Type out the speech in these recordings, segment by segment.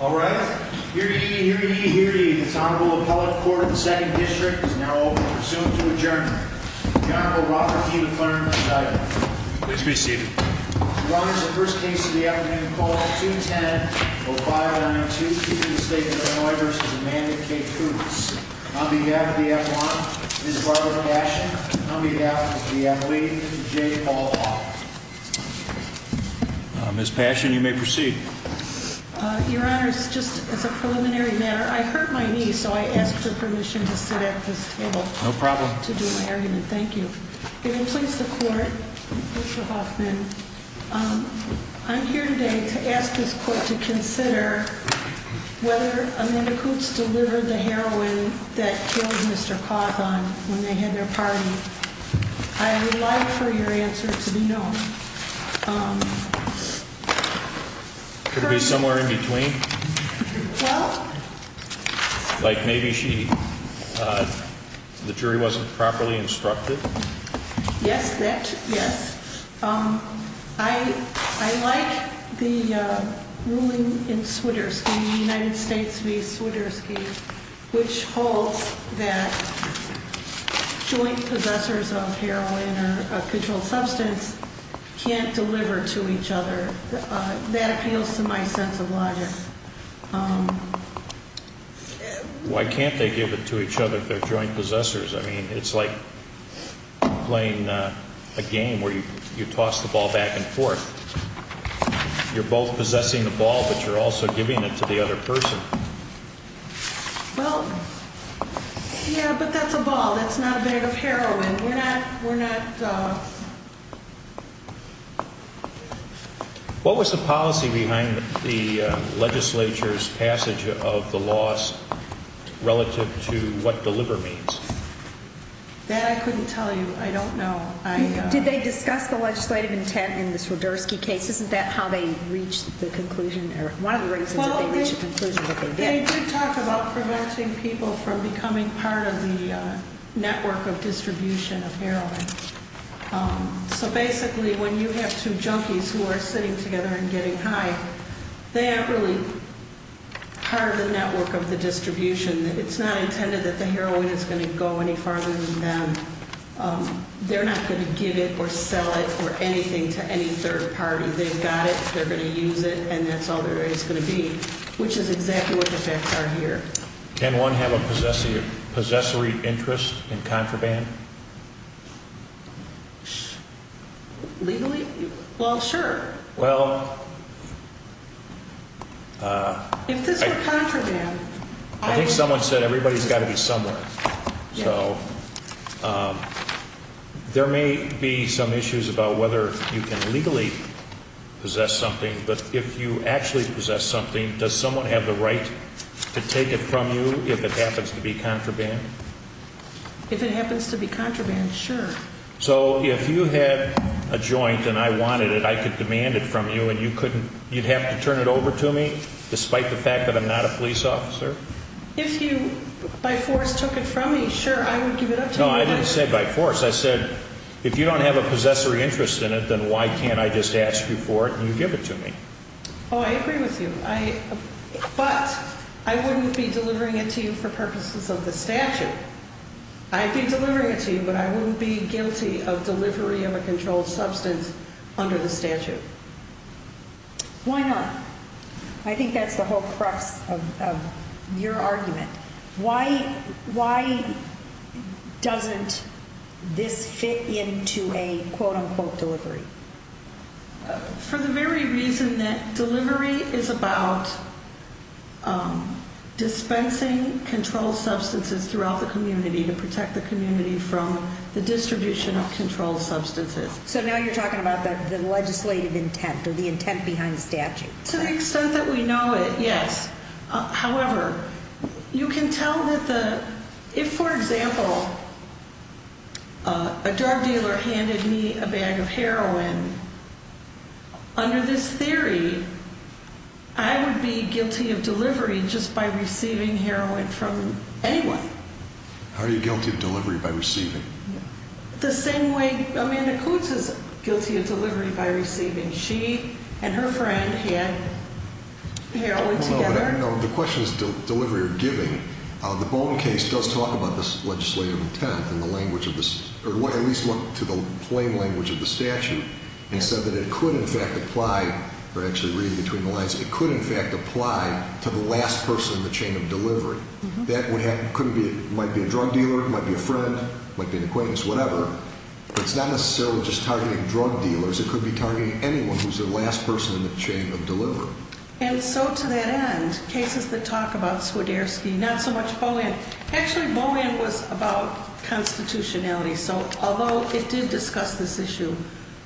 All right, here you hear you hear you. It's honorable appellate court in the second district is now over. Soon to adjourn. The Honorable Robert E. McLernan. Please be seated. First case of the afternoon. Oh, the state. I'll be happy. I'll be happy. J. Paul Miss Passion. You may proceed. Your honor is just as a preliminary matter. I hurt my knee, so I asked for permission to sit at this table. No problem to do my argument. Thank you. It completes the court. I'm here today to ask this court to consider whether Amanda Coots delivered the heroine that killed Mr Hawthorne when they had their party. I would like for your answer to be no. Um, could be somewhere in between. Like maybe she the jury wasn't properly instructed. Yes, that yes. Um, I I like the ruling in Swiderski United States v. Swiderski, which holds that joint possessors of heroin or a controlled substance can't deliver to each other. That appeals to my sense of logic. Why can't they give it to each other? Their joint possessors? I mean, it's like playing a game where you toss the ball back and forth. You're both possessing the ball, but you're also giving it to the other person. Well, yeah, but that's a ball. That's not a bit of heroin. We're not. We're not. What was the policy behind the Legislature's passage of the loss relative to what deliver means that I couldn't tell you. I don't know. Did they discuss the legislative intent in the Swiderski case? Isn't that how they reached the conclusion or one of the reasons? We should talk about preventing people from becoming part of the network of distribution of heroin. So basically, when you have two junkies who are sitting together and getting high, they aren't really part of the network of the distribution. It's not intended that the heroin is going to go any farther than them. They're not going to give it or sell it or anything to any third party. They've got it. They're going to use it, and that's all there is going to be, which is exactly what the facts are here. Can one have a possessive possessory interest in contraband? Legally? Well, sure. Well, if this is a contraband, I think someone said everybody's got to be somewhere. So there may be some issues about whether you can legally possess something. But if you actually possess something, does someone have the right to take it from you if it happens to be contraband? If it happens to be contraband, sure. So if you had a joint and I wanted it, I could demand it from you and you'd have to turn it over to me despite the fact that I'm not a police officer? If you by force took it from me, sure, I would give it up to you. No, I didn't say by force. I said, if you don't have a possessory interest in it, then why can't I just ask you for it and you give it to me? Oh, I agree with you. But I wouldn't be delivering it to you for purposes of the statute. I'd be delivering it to you, but I wouldn't be guilty of delivery of a controlled substance under the statute. Why not? I think that's the whole crux of your argument. Why doesn't this fit into a quote-unquote delivery? For the very reason that delivery is about dispensing controlled substances throughout the community to protect the community from the distribution of controlled substances. So now you're talking about the legislative intent or the intent behind the statute? To the extent that we know it, yes. However, you can tell that the, if for example, a drug dealer handed me a bag of heroin, under this theory, I would be guilty of delivery just by receiving heroin from anyone. How are you guilty of delivery by receiving? The same way Amanda Coots is guilty of delivery by receiving. She and her friend had heroin together? No, the question is delivery or giving. The Bowman case does talk about this legislative intent in the language of the, or at least went to the plain language of the statute and said that it could in fact apply, or actually reading between the lines, it could in fact apply to the last person in the chain of delivery. That would have, could be, might be a drug dealer, might be a friend, might be an acquaintance, whatever. It's not necessarily just targeting drug dealers. It could be targeting anyone who's the last person in the chain of delivery. And so to that end, cases that talk about Swiderski, not so much Bowman, actually Bowman was about constitutionality. So although it did discuss this issue,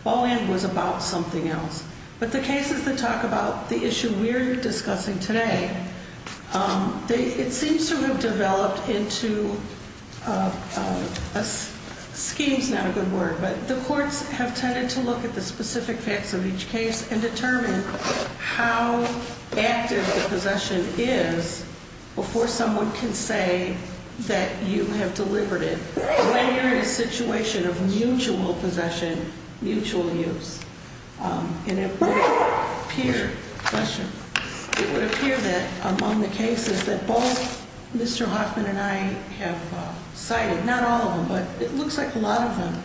Bowman was about something else. But the cases that talk about the issue we're discussing today, they, it seems to have developed into a schemes, not a good word, but the courts have tended to look at the specific facts of each case and determine how active the possession is before someone can say that you have delivered it. When you're in a situation of mutual possession, mutual use, and it would appear that among the cases that both Mr. Hoffman and I have cited, not all of them, but it looks like a lot of them.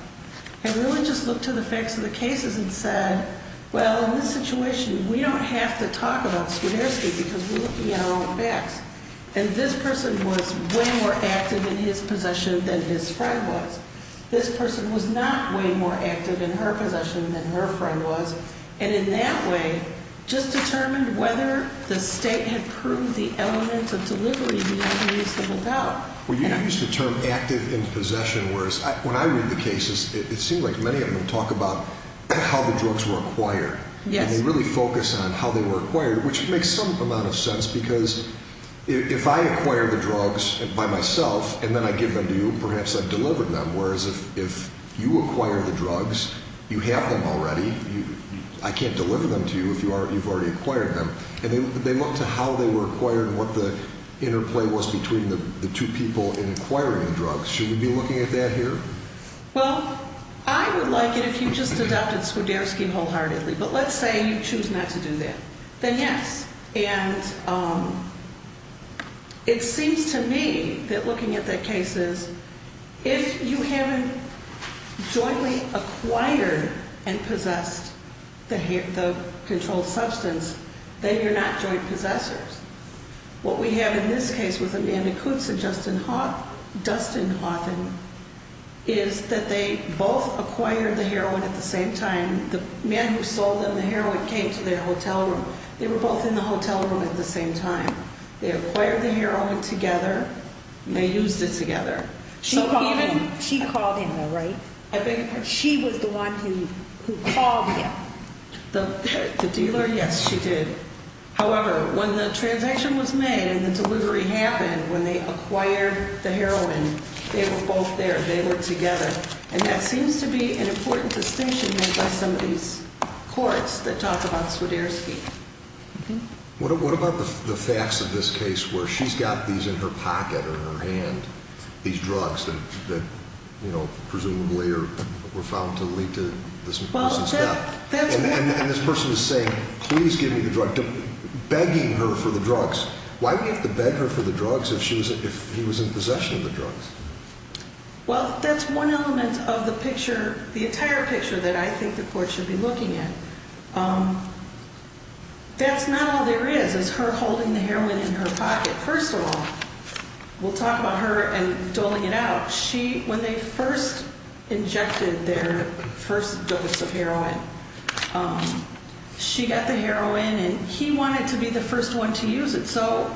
And really just look to the facts of the cases and said, well, in this situation, we don't have to talk about Swiderski because we're looking at our own backs. And this person was way more active in his possession than his friend was. This person was not way more active in her possession than her friend was. And in that way, just determined whether the state had proved the elements of delivery beyond reasonable doubt. Well, you used the term active in possession, whereas when I read the cases, it seemed like many of them talk about how the drugs were acquired. And they really focus on how they were acquired, which makes some amount of sense because if I acquire the drugs by myself and then I give them to you, perhaps I've delivered them. Whereas if you acquire the drugs, you have them already. I can't deliver them to you if you've already acquired them. And they look to how they were acquired and what the interplay was between the two people in acquiring the drugs. Should we be looking at that here? Well, I would like it if you just adopted Swiderski wholeheartedly, but let's say you choose not to do that, then yes. And it seems to me that looking at the cases, if you haven't jointly acquired and possessed the controlled substance, then you're not joint possessors. What we have in this case with Amanda Kutz and Dustin Houghton is that they both acquired the heroin at the same time. The man who sold them the heroin came to their hotel room. They were both in the hotel room at the same time. They acquired the heroin together. They used it together. She called him, though, right? I beg your pardon? She was the one who called him. The dealer? Yes, she did. However, when the transaction was made and the delivery happened, when they acquired the heroin, they were both there. They were together. And that seems to be an important distinction made by some of these courts that talk about Swiderski. What about the facts of this case where she's got these in her pocket or in her hand, these drugs that, you know, presumably were found to lead to this person's death? And this person is saying, please give me the drug, begging her for the drugs. Why do you have to beg her for the drugs if she was, if he was in possession of the drugs? Well, that's one element of the picture, the entire picture that I think the court should be looking at. That's not all there is, is her holding the heroin in her pocket. First of all, we'll talk about her and doling it out. She, when they first injected their first dose of heroin, she got the heroin and he wanted to be the first one to use it. So,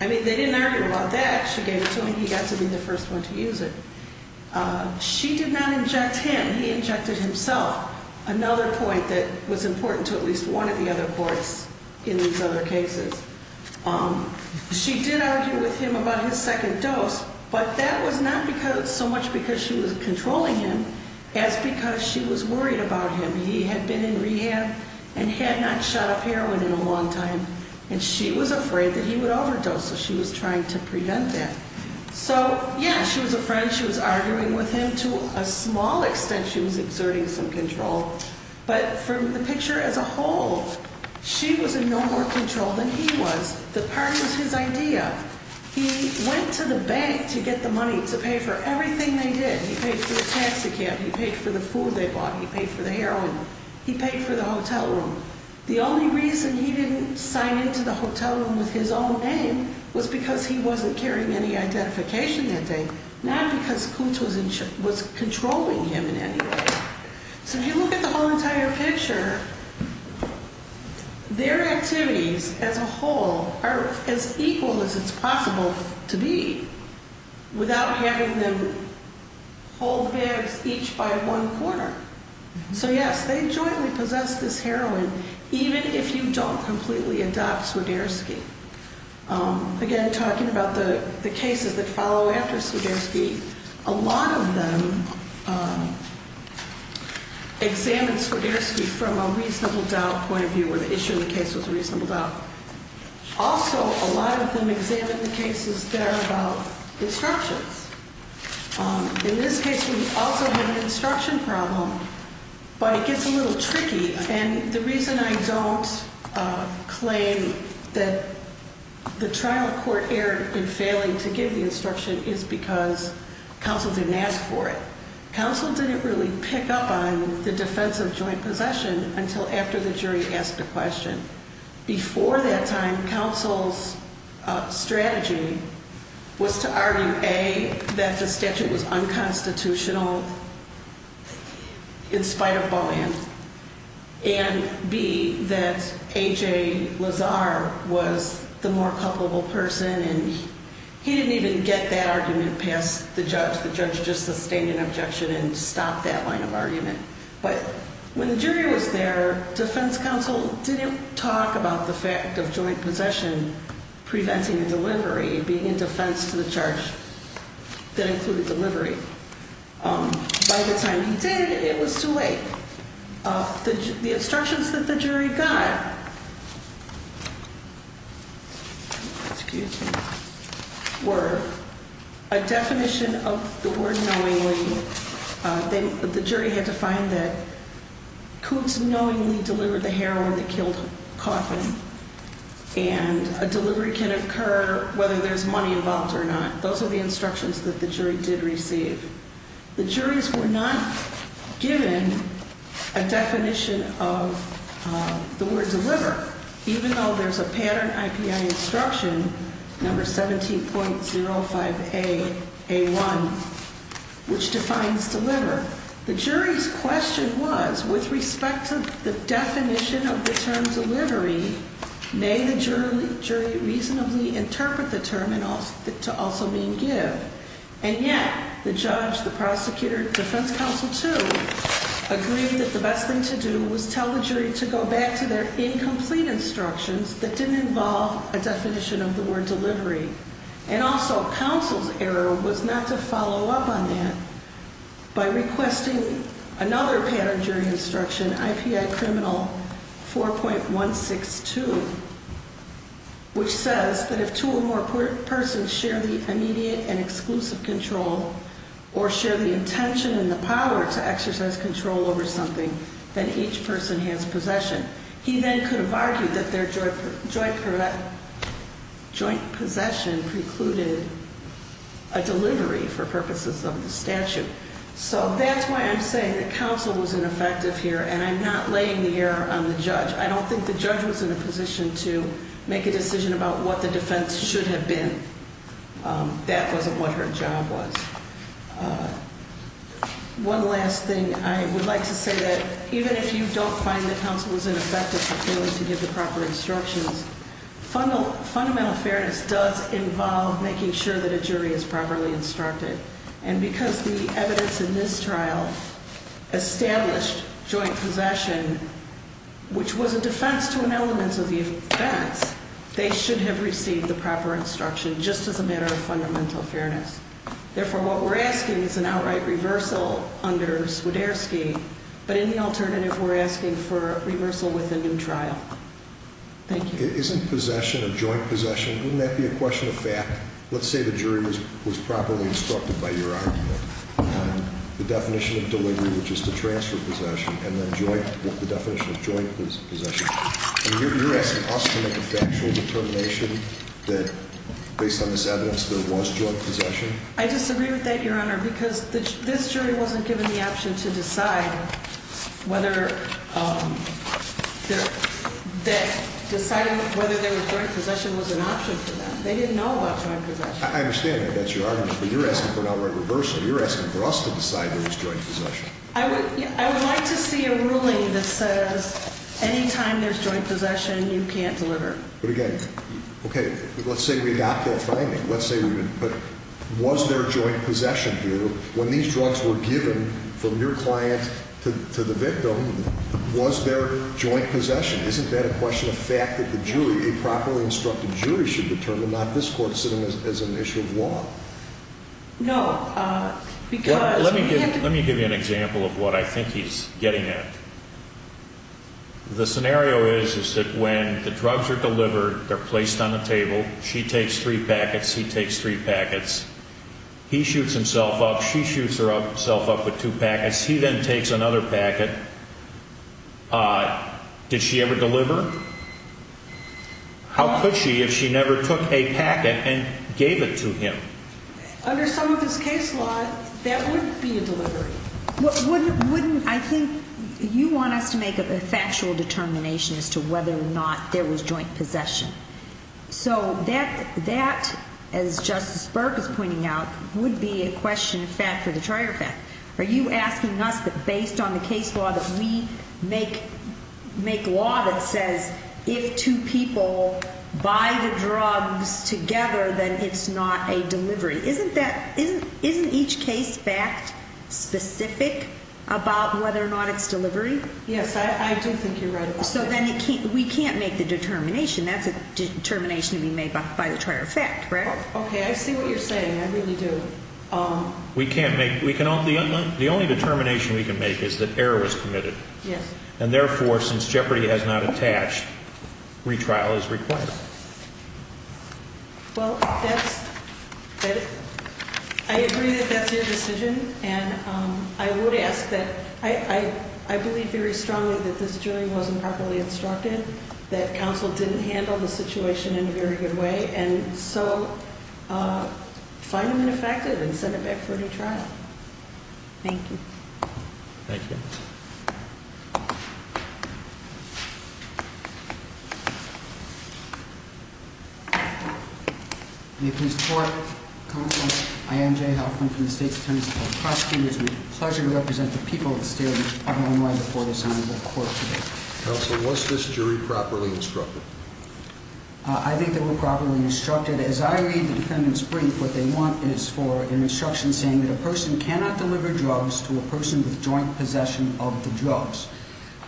I mean, they didn't argue about that. She gave it to him. He got to be the first one to use it. She did not inject him. He injected himself. Another point that was important to at least one of the other courts in these other cases. She did argue with him about his second dose, but that was not because so much because she was controlling him as because she was worried about him. He had been in rehab and had not shot up heroin in a long time, and she was afraid that he would overdose. So she was trying to prevent that. So, yeah, she was afraid. She was arguing with him to a small extent. She was exerting some control, but from the picture as a whole, she was in no more control than he was. The part was his idea. He went to the bank to get the money to pay for everything they did. He paid for the taxi cab. He paid for the food they bought. He paid for the heroin. He paid for the hotel room. The only reason he didn't sign into the hotel room with his own name was because he wasn't carrying any identification that day, not because Kutz was controlling him in any way. So if you look at the whole entire picture, their activities as a whole are as equal as it's possible to be without having them hold bags each by one corner. So, yes, they jointly possess this heroin, even if you don't completely adopt Swiderski. Again, talking about the cases that follow after Swiderski, a lot of them examined Swiderski from a reasonable doubt point of view, where the issue of the case was a reasonable doubt. Also, a lot of them examined the cases that are about instructions. In this case, we also have an instruction problem, but it gets a little tricky. And the reason I don't claim that the trial court error in failing to give the instruction is because counsel didn't ask for it. Counsel didn't really pick up on the defense of joint possession until after the jury asked a question. Before that time, counsel's strategy was to argue, A, that the statute was unconstitutional in spite of Bohan, and B, that A.J. Lazar was the more culpable person, and he didn't even get that argument past the judge. The judge just sustained an objection and stopped that line of argument. But when the jury was there, defense counsel didn't talk about the fact of joint possession preventing a delivery, being in defense to the charge that included delivery. By the time he did, it was too late. The instructions that the jury got were a definition of the word knowingly. The jury had to find that Coutts knowingly delivered the heroin that killed Coffin, and a delivery can occur whether there's money involved or not. Those are the instructions that the jury did receive. The juries were not given a definition of the word deliver, even though there's a pattern IPI instruction, number 17.05A, A1, which defines deliver. The jury's question was, with respect to the definition of the term delivery, may the jury reasonably interpret the term to also mean give? And yet, the judge, the prosecutor, defense counsel, too, agreed that the best thing to do was tell the jury to go back to their incomplete instructions that didn't involve a definition of the word delivery. And also, counsel's error was not to follow up on that by requesting another pattern jury instruction, IPI criminal 4.162, which says that if two or more persons share the immediate and exclusive control or share the intention and the power to exercise control over something, then each person has possession. He then could have argued that their joint possession precluded a delivery for purposes of the statute. So that's why I'm saying that counsel was ineffective here, and I'm not laying the error on the judge. I don't think the judge was in a position to make a decision about what the defense should have been. That wasn't what her job was. One last thing, I would like to say that even if you don't find that counsel was ineffective to give the proper instructions, fundamental fairness does involve making sure that a jury is properly instructed. And because the evidence in this trial established joint possession, which was a defense to an element of the offense, they should have received the proper instruction just as a matter of fundamental fairness. Therefore, what we're asking is an outright reversal under Swiderski. But in the alternative, we're asking for reversal with a new trial. Thank you. Isn't possession of joint possession? Wouldn't that be a question of fact? Let's say the jury was properly instructed by your argument. The definition of delivery, which is to transfer possession and then join the definition of joint possession. You're asking us to make a factual determination that based on this evidence, there was joint possession. I disagree with that, Your Honor, because this jury wasn't given the option to decide whether deciding whether there was joint possession was an option for them. They didn't know about joint possession. I understand that that's your argument, but you're asking for an outright reversal. You're asking for us to decide there was joint possession. I would like to see a ruling that says anytime there's joint possession, you can't deliver. But again, okay, let's say we got that finding. Let's say we didn't, but was there joint possession here when these drugs were given from your client to the victim? Was there joint possession? Isn't that a question of fact that the jury, a properly instructed jury should determine, not this court sitting as an issue of law? No, because... Let me give you an example of what I think he's getting at. The scenario is, is that when the drugs are delivered, they're placed on the table, she takes three packets, he takes three packets, he leaves herself up with two packets, he then takes another packet. Did she ever deliver? How could she if she never took a packet and gave it to him? Under some of his case law, that would be a delivery. Wouldn't, I think you want us to make a factual determination as to whether or not there was joint possession. So that, that, as a trial effect. Are you asking us that based on the case law that we make, make law that says if two people buy the drugs together, then it's not a delivery. Isn't that, isn't, isn't each case fact specific about whether or not it's delivery? Yes, I do think you're right. So then it can't, we can't make the determination. That's a determination to be made by the trial effect, correct? Okay, I see what you're saying. So we can't make, we can only, the only determination we can make is that error was committed. Yes. And therefore, since Jeopardy has not attached, retrial is required. Well, that's, I agree that that's your decision and I would ask that, I, I, I believe very strongly that this jury wasn't properly instructed, that counsel didn't handle the and send it back for a new trial. Thank you. Thank you. You please. I am J. Helping from the state. Pleasure to represent the people of the state of Illinois before this honorable court. What's this jury properly instructed? I think they were properly instructed. As I read the defendant's brief, what they want is for an instruction saying that a person cannot deliver drugs to a person with joint possession of the drugs.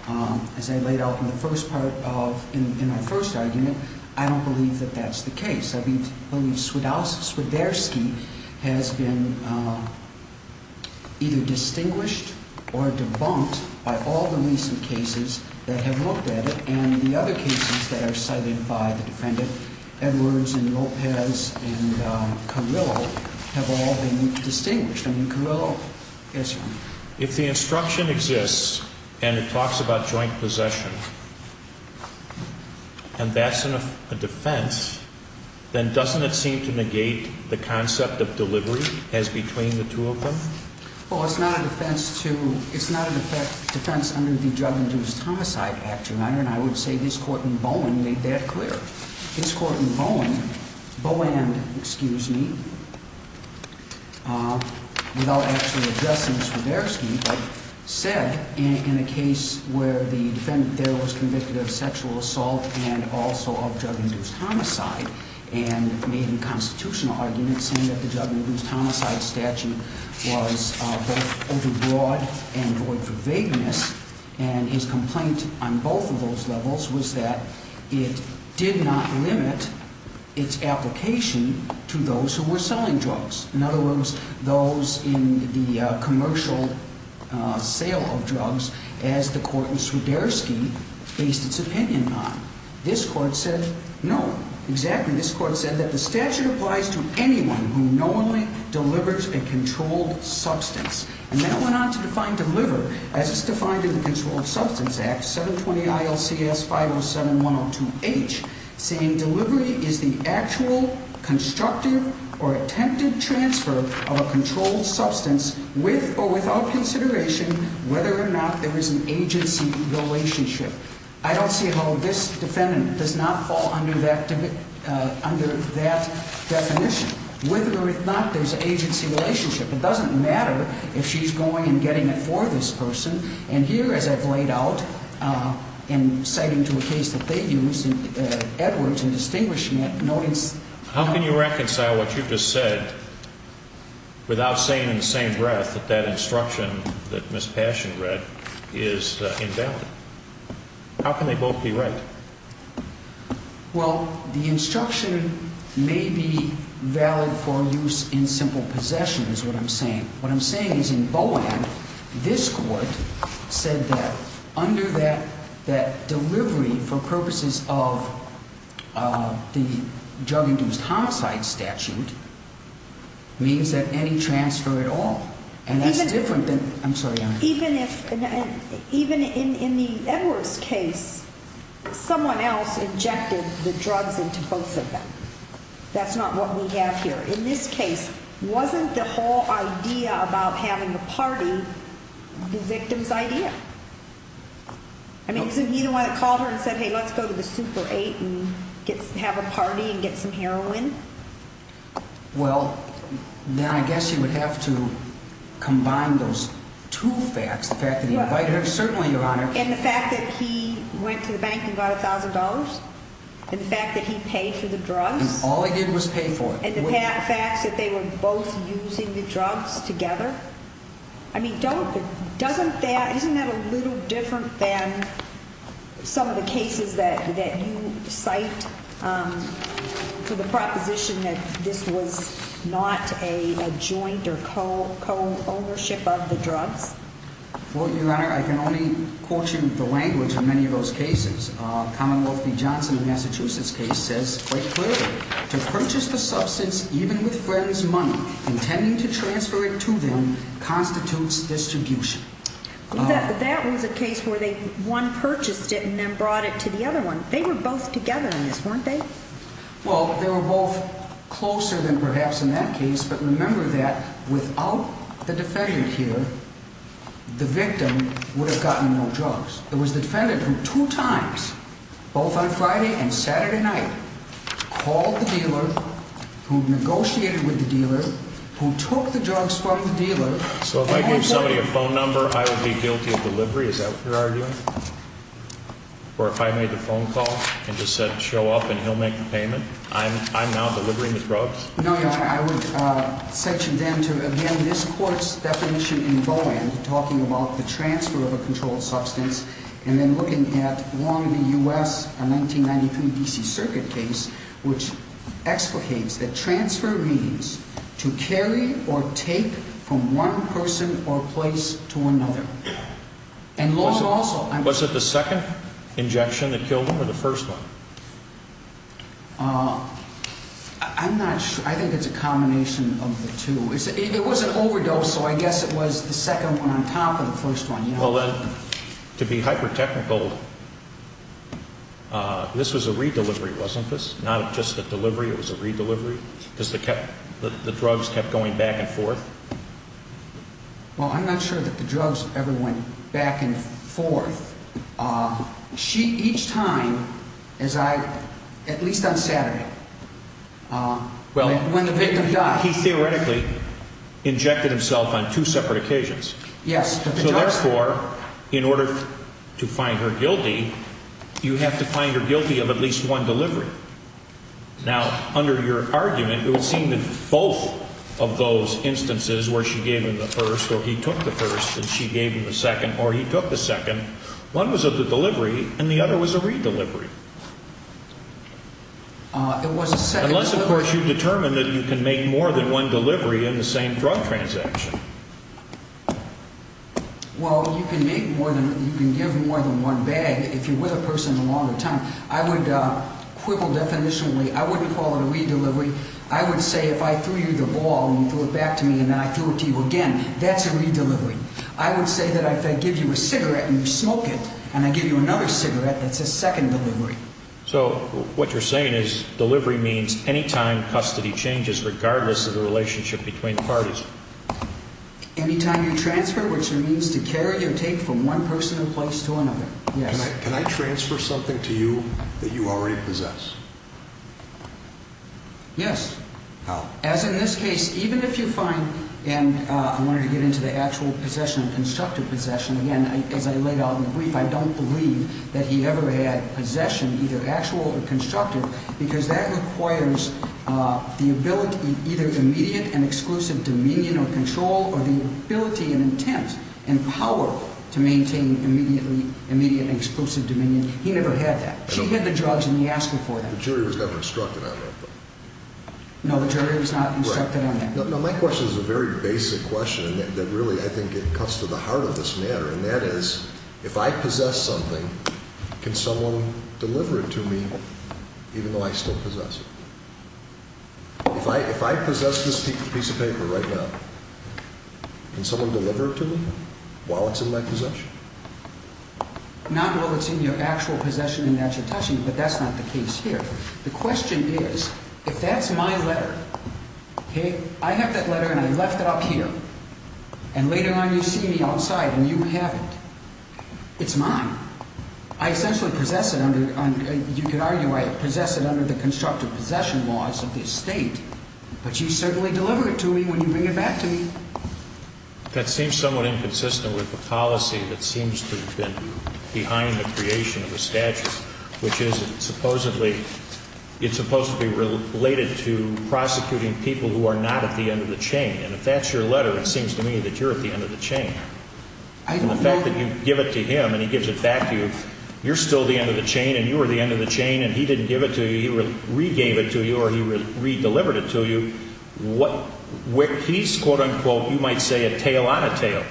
Um, as I laid out in the first part of, in my first argument, I don't believe that that's the case. I believe, I believe Swidowski has been, uh, either distinguished or debunked by all the recent cases that have looked at it. And the other cases that are cited by the defendant, Edwards and have all been distinguished. I mean, Carillo. Yes, sir. If the instruction exists and it talks about joint possession and that's a defense, then doesn't it seem to negate the concept of delivery as between the two of them? Well, it's not a defense to, it's not an effect defense under the drug induced homicide act. Your Honor. And I would say this court in Bowen made that clear. This court in Bowen Bowen, excuse me, uh, without actually addressing this for their scheme, but said in a case where the defendant there was convicted of sexual assault and also of drug induced homicide and made in constitutional arguments and that the drug induced homicide statute was overbroad and void for vagueness. And his complaint on both of those levels was that it did not limit its application to those who were selling drugs. In other words, those in the commercial sale of drugs as the court in Swidowski based its opinion on this court said no. Exactly. This court said that the statute applies to anyone who normally delivers a controlled substance. And then it went on to define deliver as it's defined in the controlled substance act. 7 20 ILCS 5 0 7 1 0 2 H saying delivery is the actual constructive or attempted transfer of a controlled substance with or without consideration whether or not there is an agency relationship. I don't see how this defendant does not fall under that, uh, under that definition. Whether or not there's an agency relationship, it doesn't matter if she's going and getting it for this person. And here, as I've laid out, uh, and citing to a case that they use Edwards and distinguishing it, no, it's how can you reconcile what you just said without saying in the same breath that that instruction that Miss Passion read is invalid? How can they both be right? Well, the is what I'm saying. What I'm saying is in Bowen, this court said that under that, that delivery for purposes of, uh, the drug induced homicide statute means that any transfer at all and that's different than I'm sorry, even if even in the Edwards case, someone else injected the drugs into both of that's not what we have here in this case. Wasn't the whole idea about having a party victims idea? I mean, you don't want to call her and said, Hey, let's go to the super eight and have a party and get some heroin. Well, then I guess you would have to combine those two facts. The fact that you invited her certainly your honor and the fact that he went to the bank and $1,000. In fact, that he paid for the drugs. All I did was pay for it. And the fact that they were both using the drugs together. I mean, don't doesn't that? Isn't that a little different than some of the cases that that you cite? Um, for the proposition that this was not a joint or co co ownership of the drugs. Well, your honor, I can only quote you the language in many of those cases. Commonwealth v. Johnson in Massachusetts case says quite clear to purchase the substance, even with friends money intending to transfer it to them constitutes distribution. That was a case where they won, purchased it and then brought it to the other one. They were both together in this, weren't they? Well, they were both closer than perhaps in that case. But the victim would have gotten no drugs. It was the defendant who two times, both on Friday and Saturday night, called the dealer who negotiated with the dealer who took the drugs from the dealer. So if I gave somebody a phone number, I will be guilty of delivery. Is that what you're arguing? Or if I made the phone call and just said, show up and he'll make the payment. I'm I'm now delivering the drugs. No, I would set you down to again. This court's definition in Bowen talking about the transfer of a controlled substance and then looking at one of the U. S. A 1993 D. C. Circuit case, which explicates that transfer means to carry or take from one person or place to another. And also was it the second injection that killed him or the first one? Uh, I'm not sure. I think it's a combination of the two. It was an overdose, so I guess it was the second one on top of the first one. Well, then to be hyper technical. Uh, this was a redelivery, wasn't this? Not just the delivery. It was a redelivery because the kept the drugs kept going back and forth. Well, I'm not sure that the drugs everyone back and forth. Uh, she each time is I at least on Saturday. Well, when the victim died, he theoretically injected himself on two separate occasions. Yes, that's for in order to find her guilty. You have to find her guilty of at least one delivery. Now, under your argument, it would seem that both of those instances where she gave him the first or he took the first and she gave him a second or he delivered. It was a set. Unless, of course, you determined that you can make more than one delivery in the same drug transaction. Well, you can make more than you can give more than one bag. If you were the person a longer time, I would quibble definitionally. I wouldn't call it a redelivery. I would say if I threw you the ball and you threw it back to me, and I threw it to you again, that's a redelivery. I would say that if I give you a cigarette and you smoke it and I give you another cigarette, that's a second delivery. So what you're saying is delivery means anytime custody changes, regardless of the relationship between parties. Anytime you transfer, which means to carry your take from one person in place to another. Can I transfer something to you that you already possess? Yes, as in this case, even if you find and I wanted to get into the actual possession of constructive possession again, as I laid out in the brief, I don't believe that he ever had possession, either actual or constructive because that requires the ability, either immediate and exclusive dominion or control or the ability and intent and power to maintain immediately immediate and exclusive dominion. He never had that. She had the drugs and he asked her for them. The jury was never instructed on that. No, the jury was not instructed on that. No, my question is a very basic question that really, I think it cuts to the heart of this matter. And that is, if I possess something, can someone deliver it to me, even though I still possess it? If I, if I possess this piece of paper right now, can someone deliver it to me while it's in my possession? Not while it's in your actual possession and natural touching, but that's not the case here. The question is, if that's my letter, okay, I have that letter and I left it up here and later on you see me outside and you have it, it's mine. I essentially possess it under, you could argue I possess it under the constructive possession laws of this state, but you certainly deliver it to me when you bring it back to me. That seems somewhat inconsistent with the policy that seems to have been behind the creation of the statute, which is supposedly, it's supposed to be related to prosecuting people who are not at the end of the chain. And if that's your letter, it seems to me that you're at the end of the chain. And the fact that you give it to him and he gives it back to you, you're still the end of the chain and you were the end of the chain and he didn't give it to you, he regave it to you or he re-delivered it to you. What, where he's quote-unquote, you might say a tail on a tail.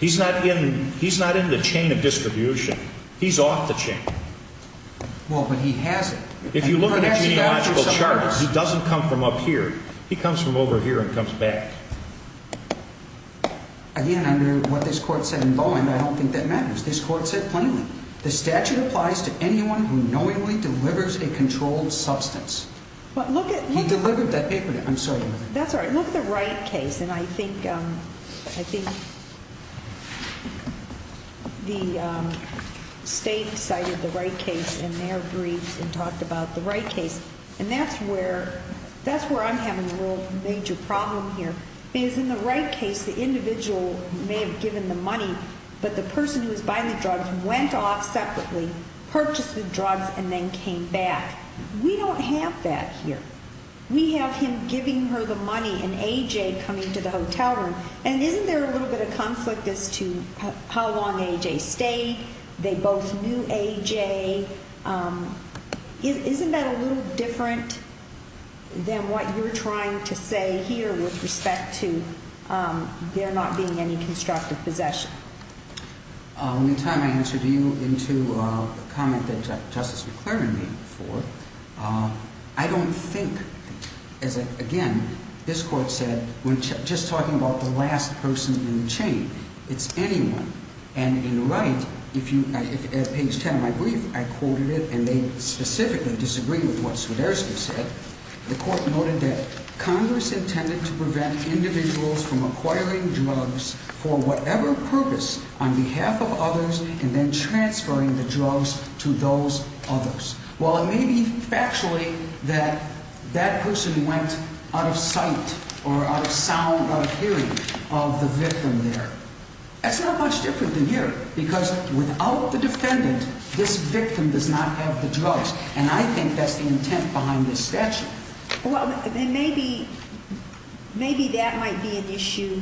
He's not in, he's not in the chain of distribution. He's off the chain. Well, but he has it. If you look at a genealogical chart, he doesn't come from up here. He comes from over here and comes back. Again, under what this court said in Bowen, I don't think that matters. This court said plainly, the statute applies to anyone who knowingly delivers a controlled substance. But look at, he delivered that paper. I'm sorry. That's all right. Look at the Wright case. And I think, I think the state cited the Wright case in their briefs and talked about the Wright case. And that's where, that's where I'm having a real major problem here. Is in the Wright case, the individual may have given the money, but the person who was buying the drugs went off separately, purchased the drugs and then came back. We don't have that here. We have him giving her the money and A.J. coming to the hotel room. And isn't there a little bit of conflict as to how long A.J. stayed? They both knew A.J. Isn't that a little different than what you're trying to say here with respect to, they're not being any constructive possession. In time, I answered you into a comment that Justice McClaren made before. I don't think, as again, this court said, when just talking about the last person in the chain, it's anyone. And in the Wright, if you, at page 10 of my brief, I quoted it and they specifically disagree with what Swiderski said. The court noted that Congress intended to prevent individuals from acquiring drugs for whatever purpose on behalf of others and then transferring the drugs to those others. While it may be factually that that person went out of sight or out of sound of hearing of the victim there, that's not much different than here because without the defendant, this victim does not have the drugs. And I think that's the intent behind this statute. Well, then maybe, maybe that might be an issue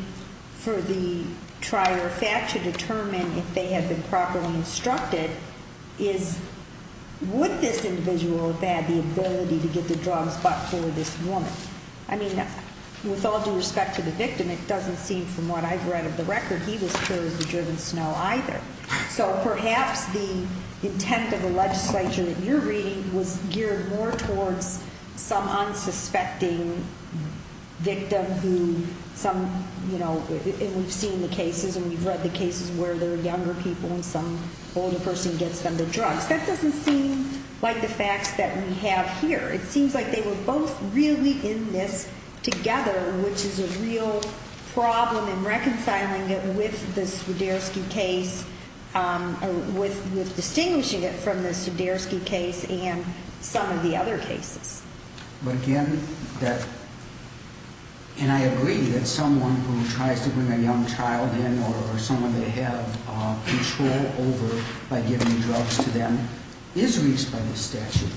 for the trier fact to determine if they have been properly instructed is what this individual have had the ability to get the drugs. But for this woman, I mean, with all due respect to the victim, it doesn't seem from what I've read of the record. He was cured of the driven snow either. So perhaps the intent of the legislature that you're reading was geared more towards some unsuspecting victim who some, you know, we've seen the cases and we've read the cases where they're younger people and some older person gets them the drugs. That doesn't seem like the facts that we have here. It seems like they were both really in this together, which is a real problem in reconciling it with the Swiderski case, um, with, with distinguishing it from the Swiderski case and some of the other cases. But again, that, and I agree that someone who tries to bring a young child in or someone they have control over by giving drugs to them is reached by this statute.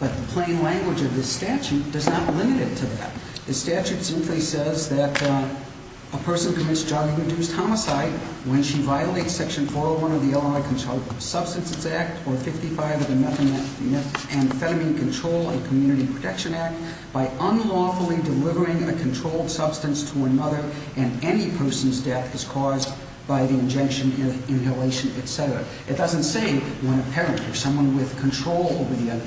But the plain language of this statute does not limit it to that. The statute simply says that a person commits drug-induced homicide when she violates section 401 of the Illinois Controlled Substances Act or 55 of the Methamphetamine Control and Community Protection Act by unlawfully delivering a controlled substance to another and any person's death is caused by the injection, inhalation, et cetera. It doesn't say when a parent or someone with control over the other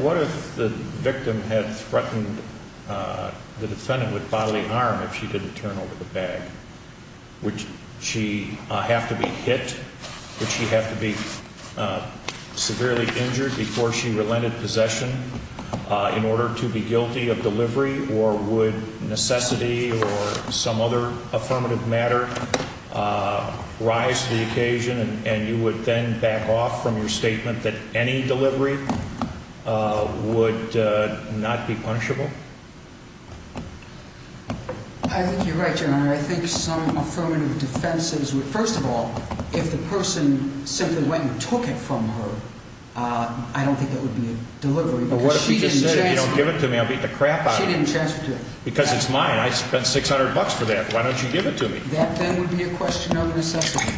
What if the victim had threatened the defendant with bodily harm if she didn't turn over the bag? Would she have to be hit? Would she have to be severely injured before she relented possession in order to be guilty of delivery or would necessity or some other affirmative matter rise to the occasion and you would then back off from her statement that any delivery would not be punishable? I think you're right, your honor. I think some affirmative defenses would first of all, if the person simply went and took it from her, I don't think that would be a delivery but what if she just said, if you don't give it to me, I'll beat the crap out of you. She didn't transfer it. Because it's mine. I spent 600 bucks for that. Why don't you give it to me? That then would be a question of necessity.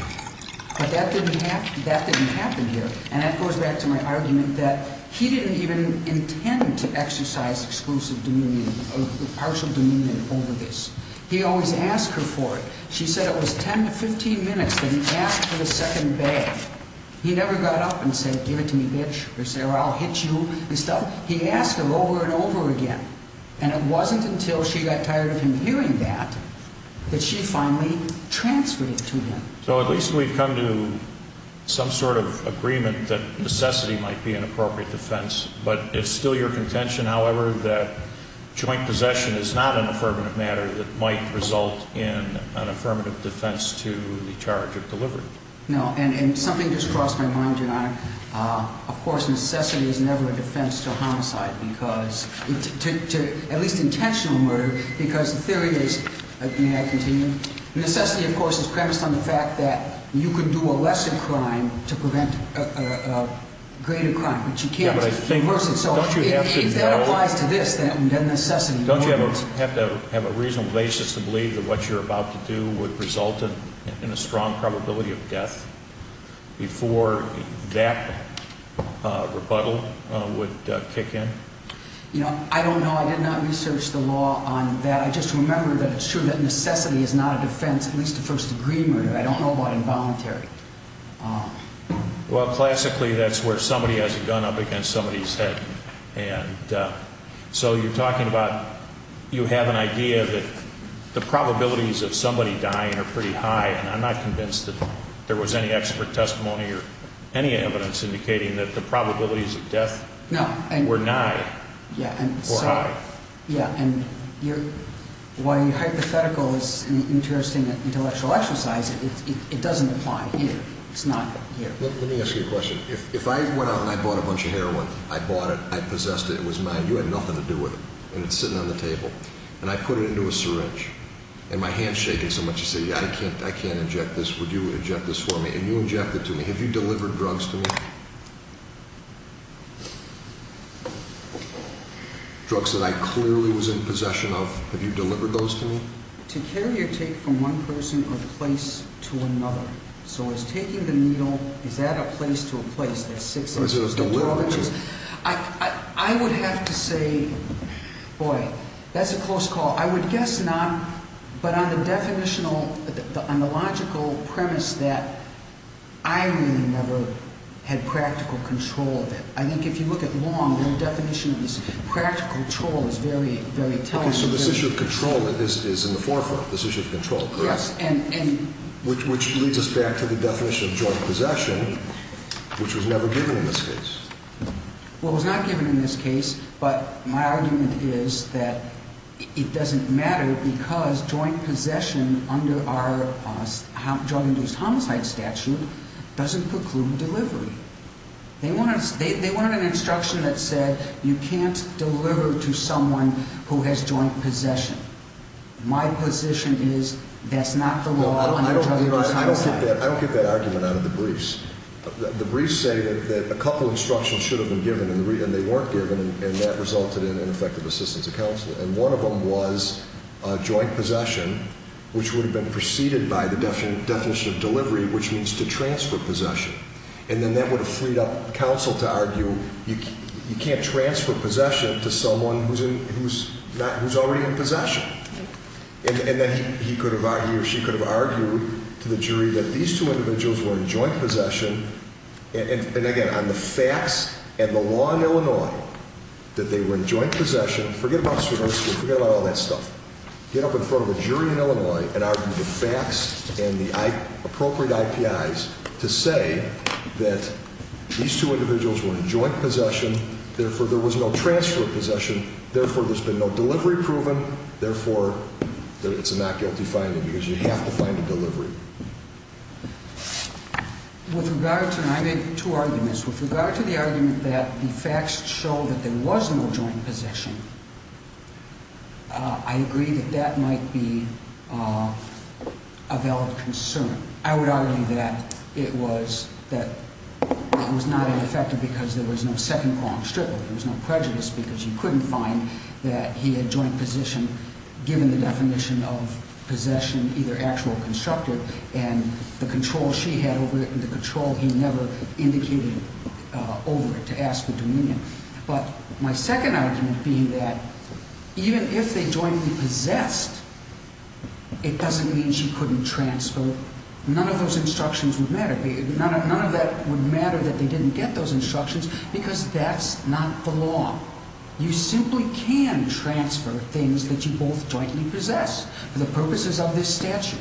But that didn't happen here. And that goes back to my argument that he didn't even intend to exercise exclusive demunion or partial demunion over this. He always asked her for it. She said it was 10 to 15 minutes that he asked for the second bag. He never got up and said, give it to me, bitch. Or said, I'll hit you and stuff. He asked her over and over again. And it wasn't until she got tired of him hearing that, that she finally transferred it to him. So at least we've come to some sort of agreement that necessity might be an appropriate defense, but it's still your contention, however, that joint possession is not an affirmative matter that might result in an affirmative defense to the charge of delivery. No, and something just crossed my mind, Your Honor. Of course, necessity is never a defense to homicide because, at least intentional murder, because the theory is, may I continue? Necessity, of course, is premised on the fact that you could do a lesser crime to prevent a greater crime, but you can't reverse it. So if that applies to this, then necessity... Don't you have to have a reasonable basis to believe that what you're about to do would result in a strong probability of death before that rebuttal would kick in? You know, I don't know. I did not research the law on that. I just remember that it's true that necessity is not a defense, at least to first degree murder. I don't know about involuntary. Well, classically, that's where somebody has a gun up against somebody's head. And so you're talking about, you have an idea that the probabilities of somebody dying are pretty high, and I'm not convinced that there was any expert testimony or any evidence indicating that the probabilities of death were nigh or high. Yeah, and while hypothetical is an interesting intellectual exercise, it doesn't apply here. It's not here. Let me ask you a question. If I went out and I bought a bunch of heroin, I bought it, I possessed it, it was mine, you had nothing to do with it, and it's sitting on the table, and I put it into a syringe, and my hand's shaking so much, you say, yeah, I can't inject this. Would you inject this for me? And you inject it to me. Have you delivered drugs to me? Drugs that I clearly was in possession of, have you delivered those to me? To carry or take from one person or place to another. So it's taking the needle, is that a place to a place? That's six inches to 12 inches. Or is it a delivery? I would have to say, boy, that's a close call. I would guess not, but on the definitional, on the logical premise that I think if you look at Long, their definition of this practical control is very, very telling. So this issue of control is in the forefront, this issue of control. Yes. And which leads us back to the definition of drug possession, which was never given in this case. Well, it was not given in this case, but my argument is that it doesn't matter because drug-induced homicide statute doesn't preclude delivery. They wanted an instruction that said you can't deliver to someone who has joint possession. My position is that's not the law under drug-induced homicide. I don't get that argument out of the briefs. The briefs say that a couple instructions should have been given and they weren't given and that resulted in ineffective assistance of counsel. And one of them was joint possession, which would have been preceded by the definition of delivery, which means to transfer possession. And then that would have freed up counsel to argue you can't transfer possession to someone who's already in possession. And then he could have argued or she could have argued to the jury that these two individuals were in joint possession. And again, on the facts and the law in Illinois that they were in joint possession. Forget about Swinburne School, forget about all that stuff. Get up in front of a jury in Illinois and argue the facts and the appropriate IPIs to say that these two individuals were in joint possession. Therefore, there was no transfer of possession. Therefore, there's been no delivery proven. Therefore, it's a not guilty finding because you have to find a delivery. With regard to, and I made two arguments. With regard to the argument that the facts show that there was no joint possession, I agree that that might be a valid concern. I would argue that it was, that it was not ineffective because there was no second qualm strictly. There was no prejudice because you couldn't find that he had joint position given the definition of possession, either actual or constructed, and the control she had over it and the control he never indicated over it to ask for dominion. But my second argument being that even if they jointly possessed, it doesn't mean she couldn't transfer. None of those instructions would matter. None of that would matter that they didn't get those instructions because that's not the law. You simply can transfer things that you both jointly possess for the purposes of this statute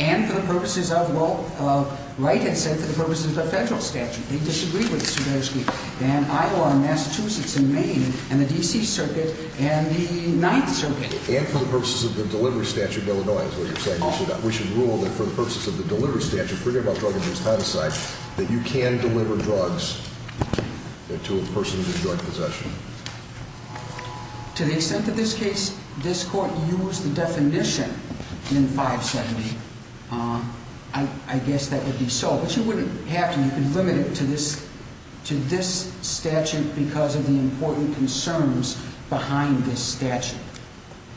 and for the purposes of, well, Wright had said for the purposes of the federal statute. They disagreed with it, and Iowa and Massachusetts and Maine and the DC circuit and the ninth circuit. And for the purposes of the delivery statute, Illinois is where you're saying we should rule that for the purposes of the delivery statute, forget about drug abuse, homicide, that you can deliver drugs to a person who's in joint possession. To the extent that this case, this court used the definition in 570, I guess that would be so, but you wouldn't have to. You can limit it to this, to this statute because of the important concerns behind this statute.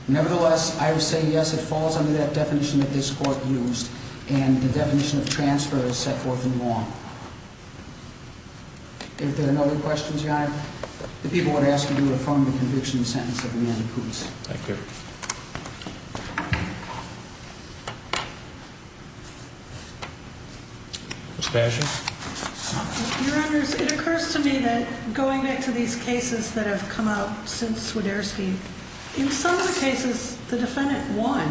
Nevertheless, I would say, yes, it falls under that definition that this court used and the definition of transfer is set forth in law. If there are no other questions, your honor, the people would ask you to affirm the conviction sentence of Amanda Poots. Thank you. Mr. Asher. Your honors, it occurs to me that going back to these cases that have come out since Swiderski, in some of the cases, the defendant won.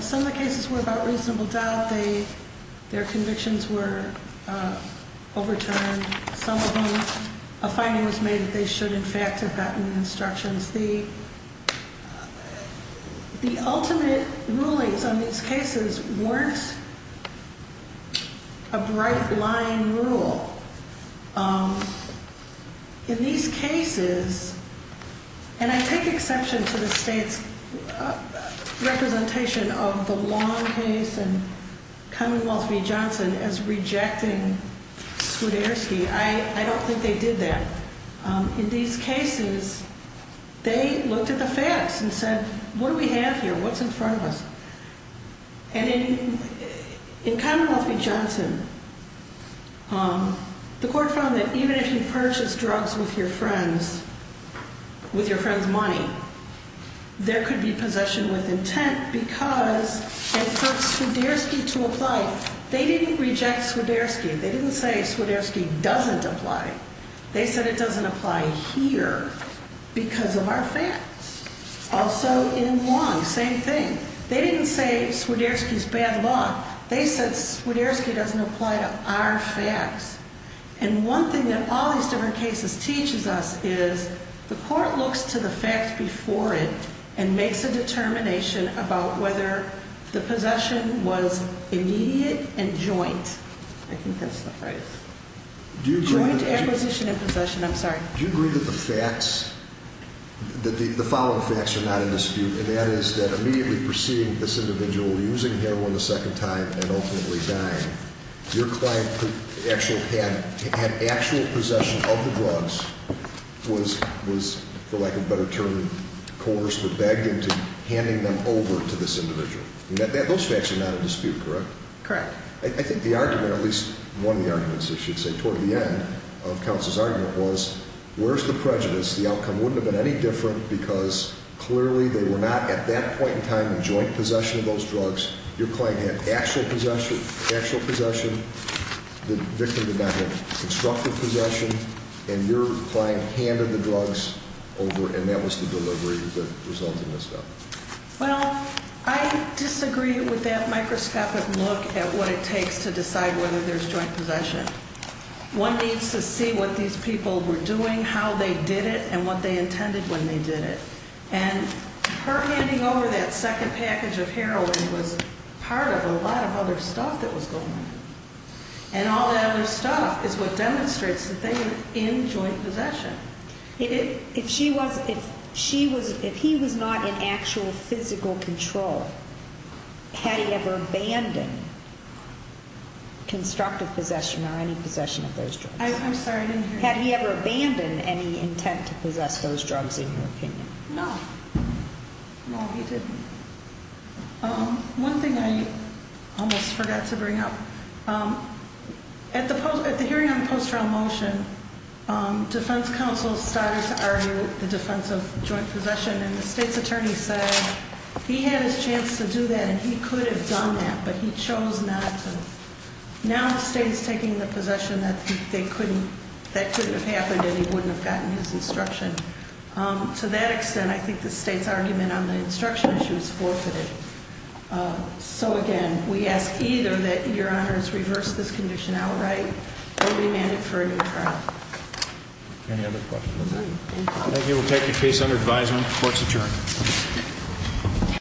Some of the cases were about reasonable doubt. They, their convictions were overturned. Some of them, a finding was made that they should in fact have gotten instructions. The, the ultimate rulings on these cases weren't a bright line rule. In these cases, and I take exception to the state's representation of the long case and Commonwealth v. Johnson as rejecting Swiderski. I don't think they did that. In these cases, they looked at the facts and said, what do we have here? What's in front of us? And in, in Commonwealth v. Johnson, the court found that even if you purchase drugs with your friends, with your friend's money, there could be possession with intent because it puts Swiderski to apply. They didn't reject Swiderski. They didn't say Swiderski doesn't apply. They said it doesn't apply here because of our facts. Also in Wong, same thing. They didn't say Swiderski's bad luck. They said Swiderski doesn't apply to our facts. And one thing that all these different cases teaches us is the court looks to the facts before it and makes a determination about whether the possession was immediate and joint. I think that's the phrase. Joint acquisition and possession. I'm sorry. Do you agree that the facts, that the, the following facts are not in dispute and that is that immediately preceding this individual using heroin a second time and ultimately dying, your client actually had, had actual possession of the drugs, was, was for lack of a better term, coerced or begged into handing them over to this individual. Those facts are not in dispute, correct? Correct. I think the argument, at least one of the arguments, I should say, toward the end of counsel's argument was, where's the prejudice? The outcome wouldn't have been any different because clearly they were not at that point in time in joint possession of those drugs. Your client had actual possession, actual possession. The victim did not have constructive possession and your client handed the drugs over and that was the delivery that resulted in this death. Well, I disagree with that microscopic look at what it takes to decide whether there's joint possession. One needs to see what these people were doing, how they did it and what they intended when they did it. And her handing over that second package of heroin was part of a lot of other stuff that was going on. And all that other stuff is what demonstrates that they were in joint possession. If she was, if she was, if he was not in actual physical control, had he ever abandoned constructive possession or any possession of those drugs? I'm sorry, I didn't hear you. Had he ever abandoned any intent to possess those drugs in your opinion? No. No, he didn't. One thing I almost forgot to bring up. At the hearing on the post-trial motion, defense counsel started to argue the defense of joint possession and the state's attorney said he had his chance to do that and he could have done that, but he chose not to. Now the state is taking the possession that they couldn't, that couldn't have happened and he wouldn't have gotten his instruction. To that extent, I think the state's argument on the instruction issue is forfeited. So again, we ask either that your honors reverse this condition outright or remand it for a new trial. Any other questions? Thank you. We'll take the case under advisement. Court's adjourned.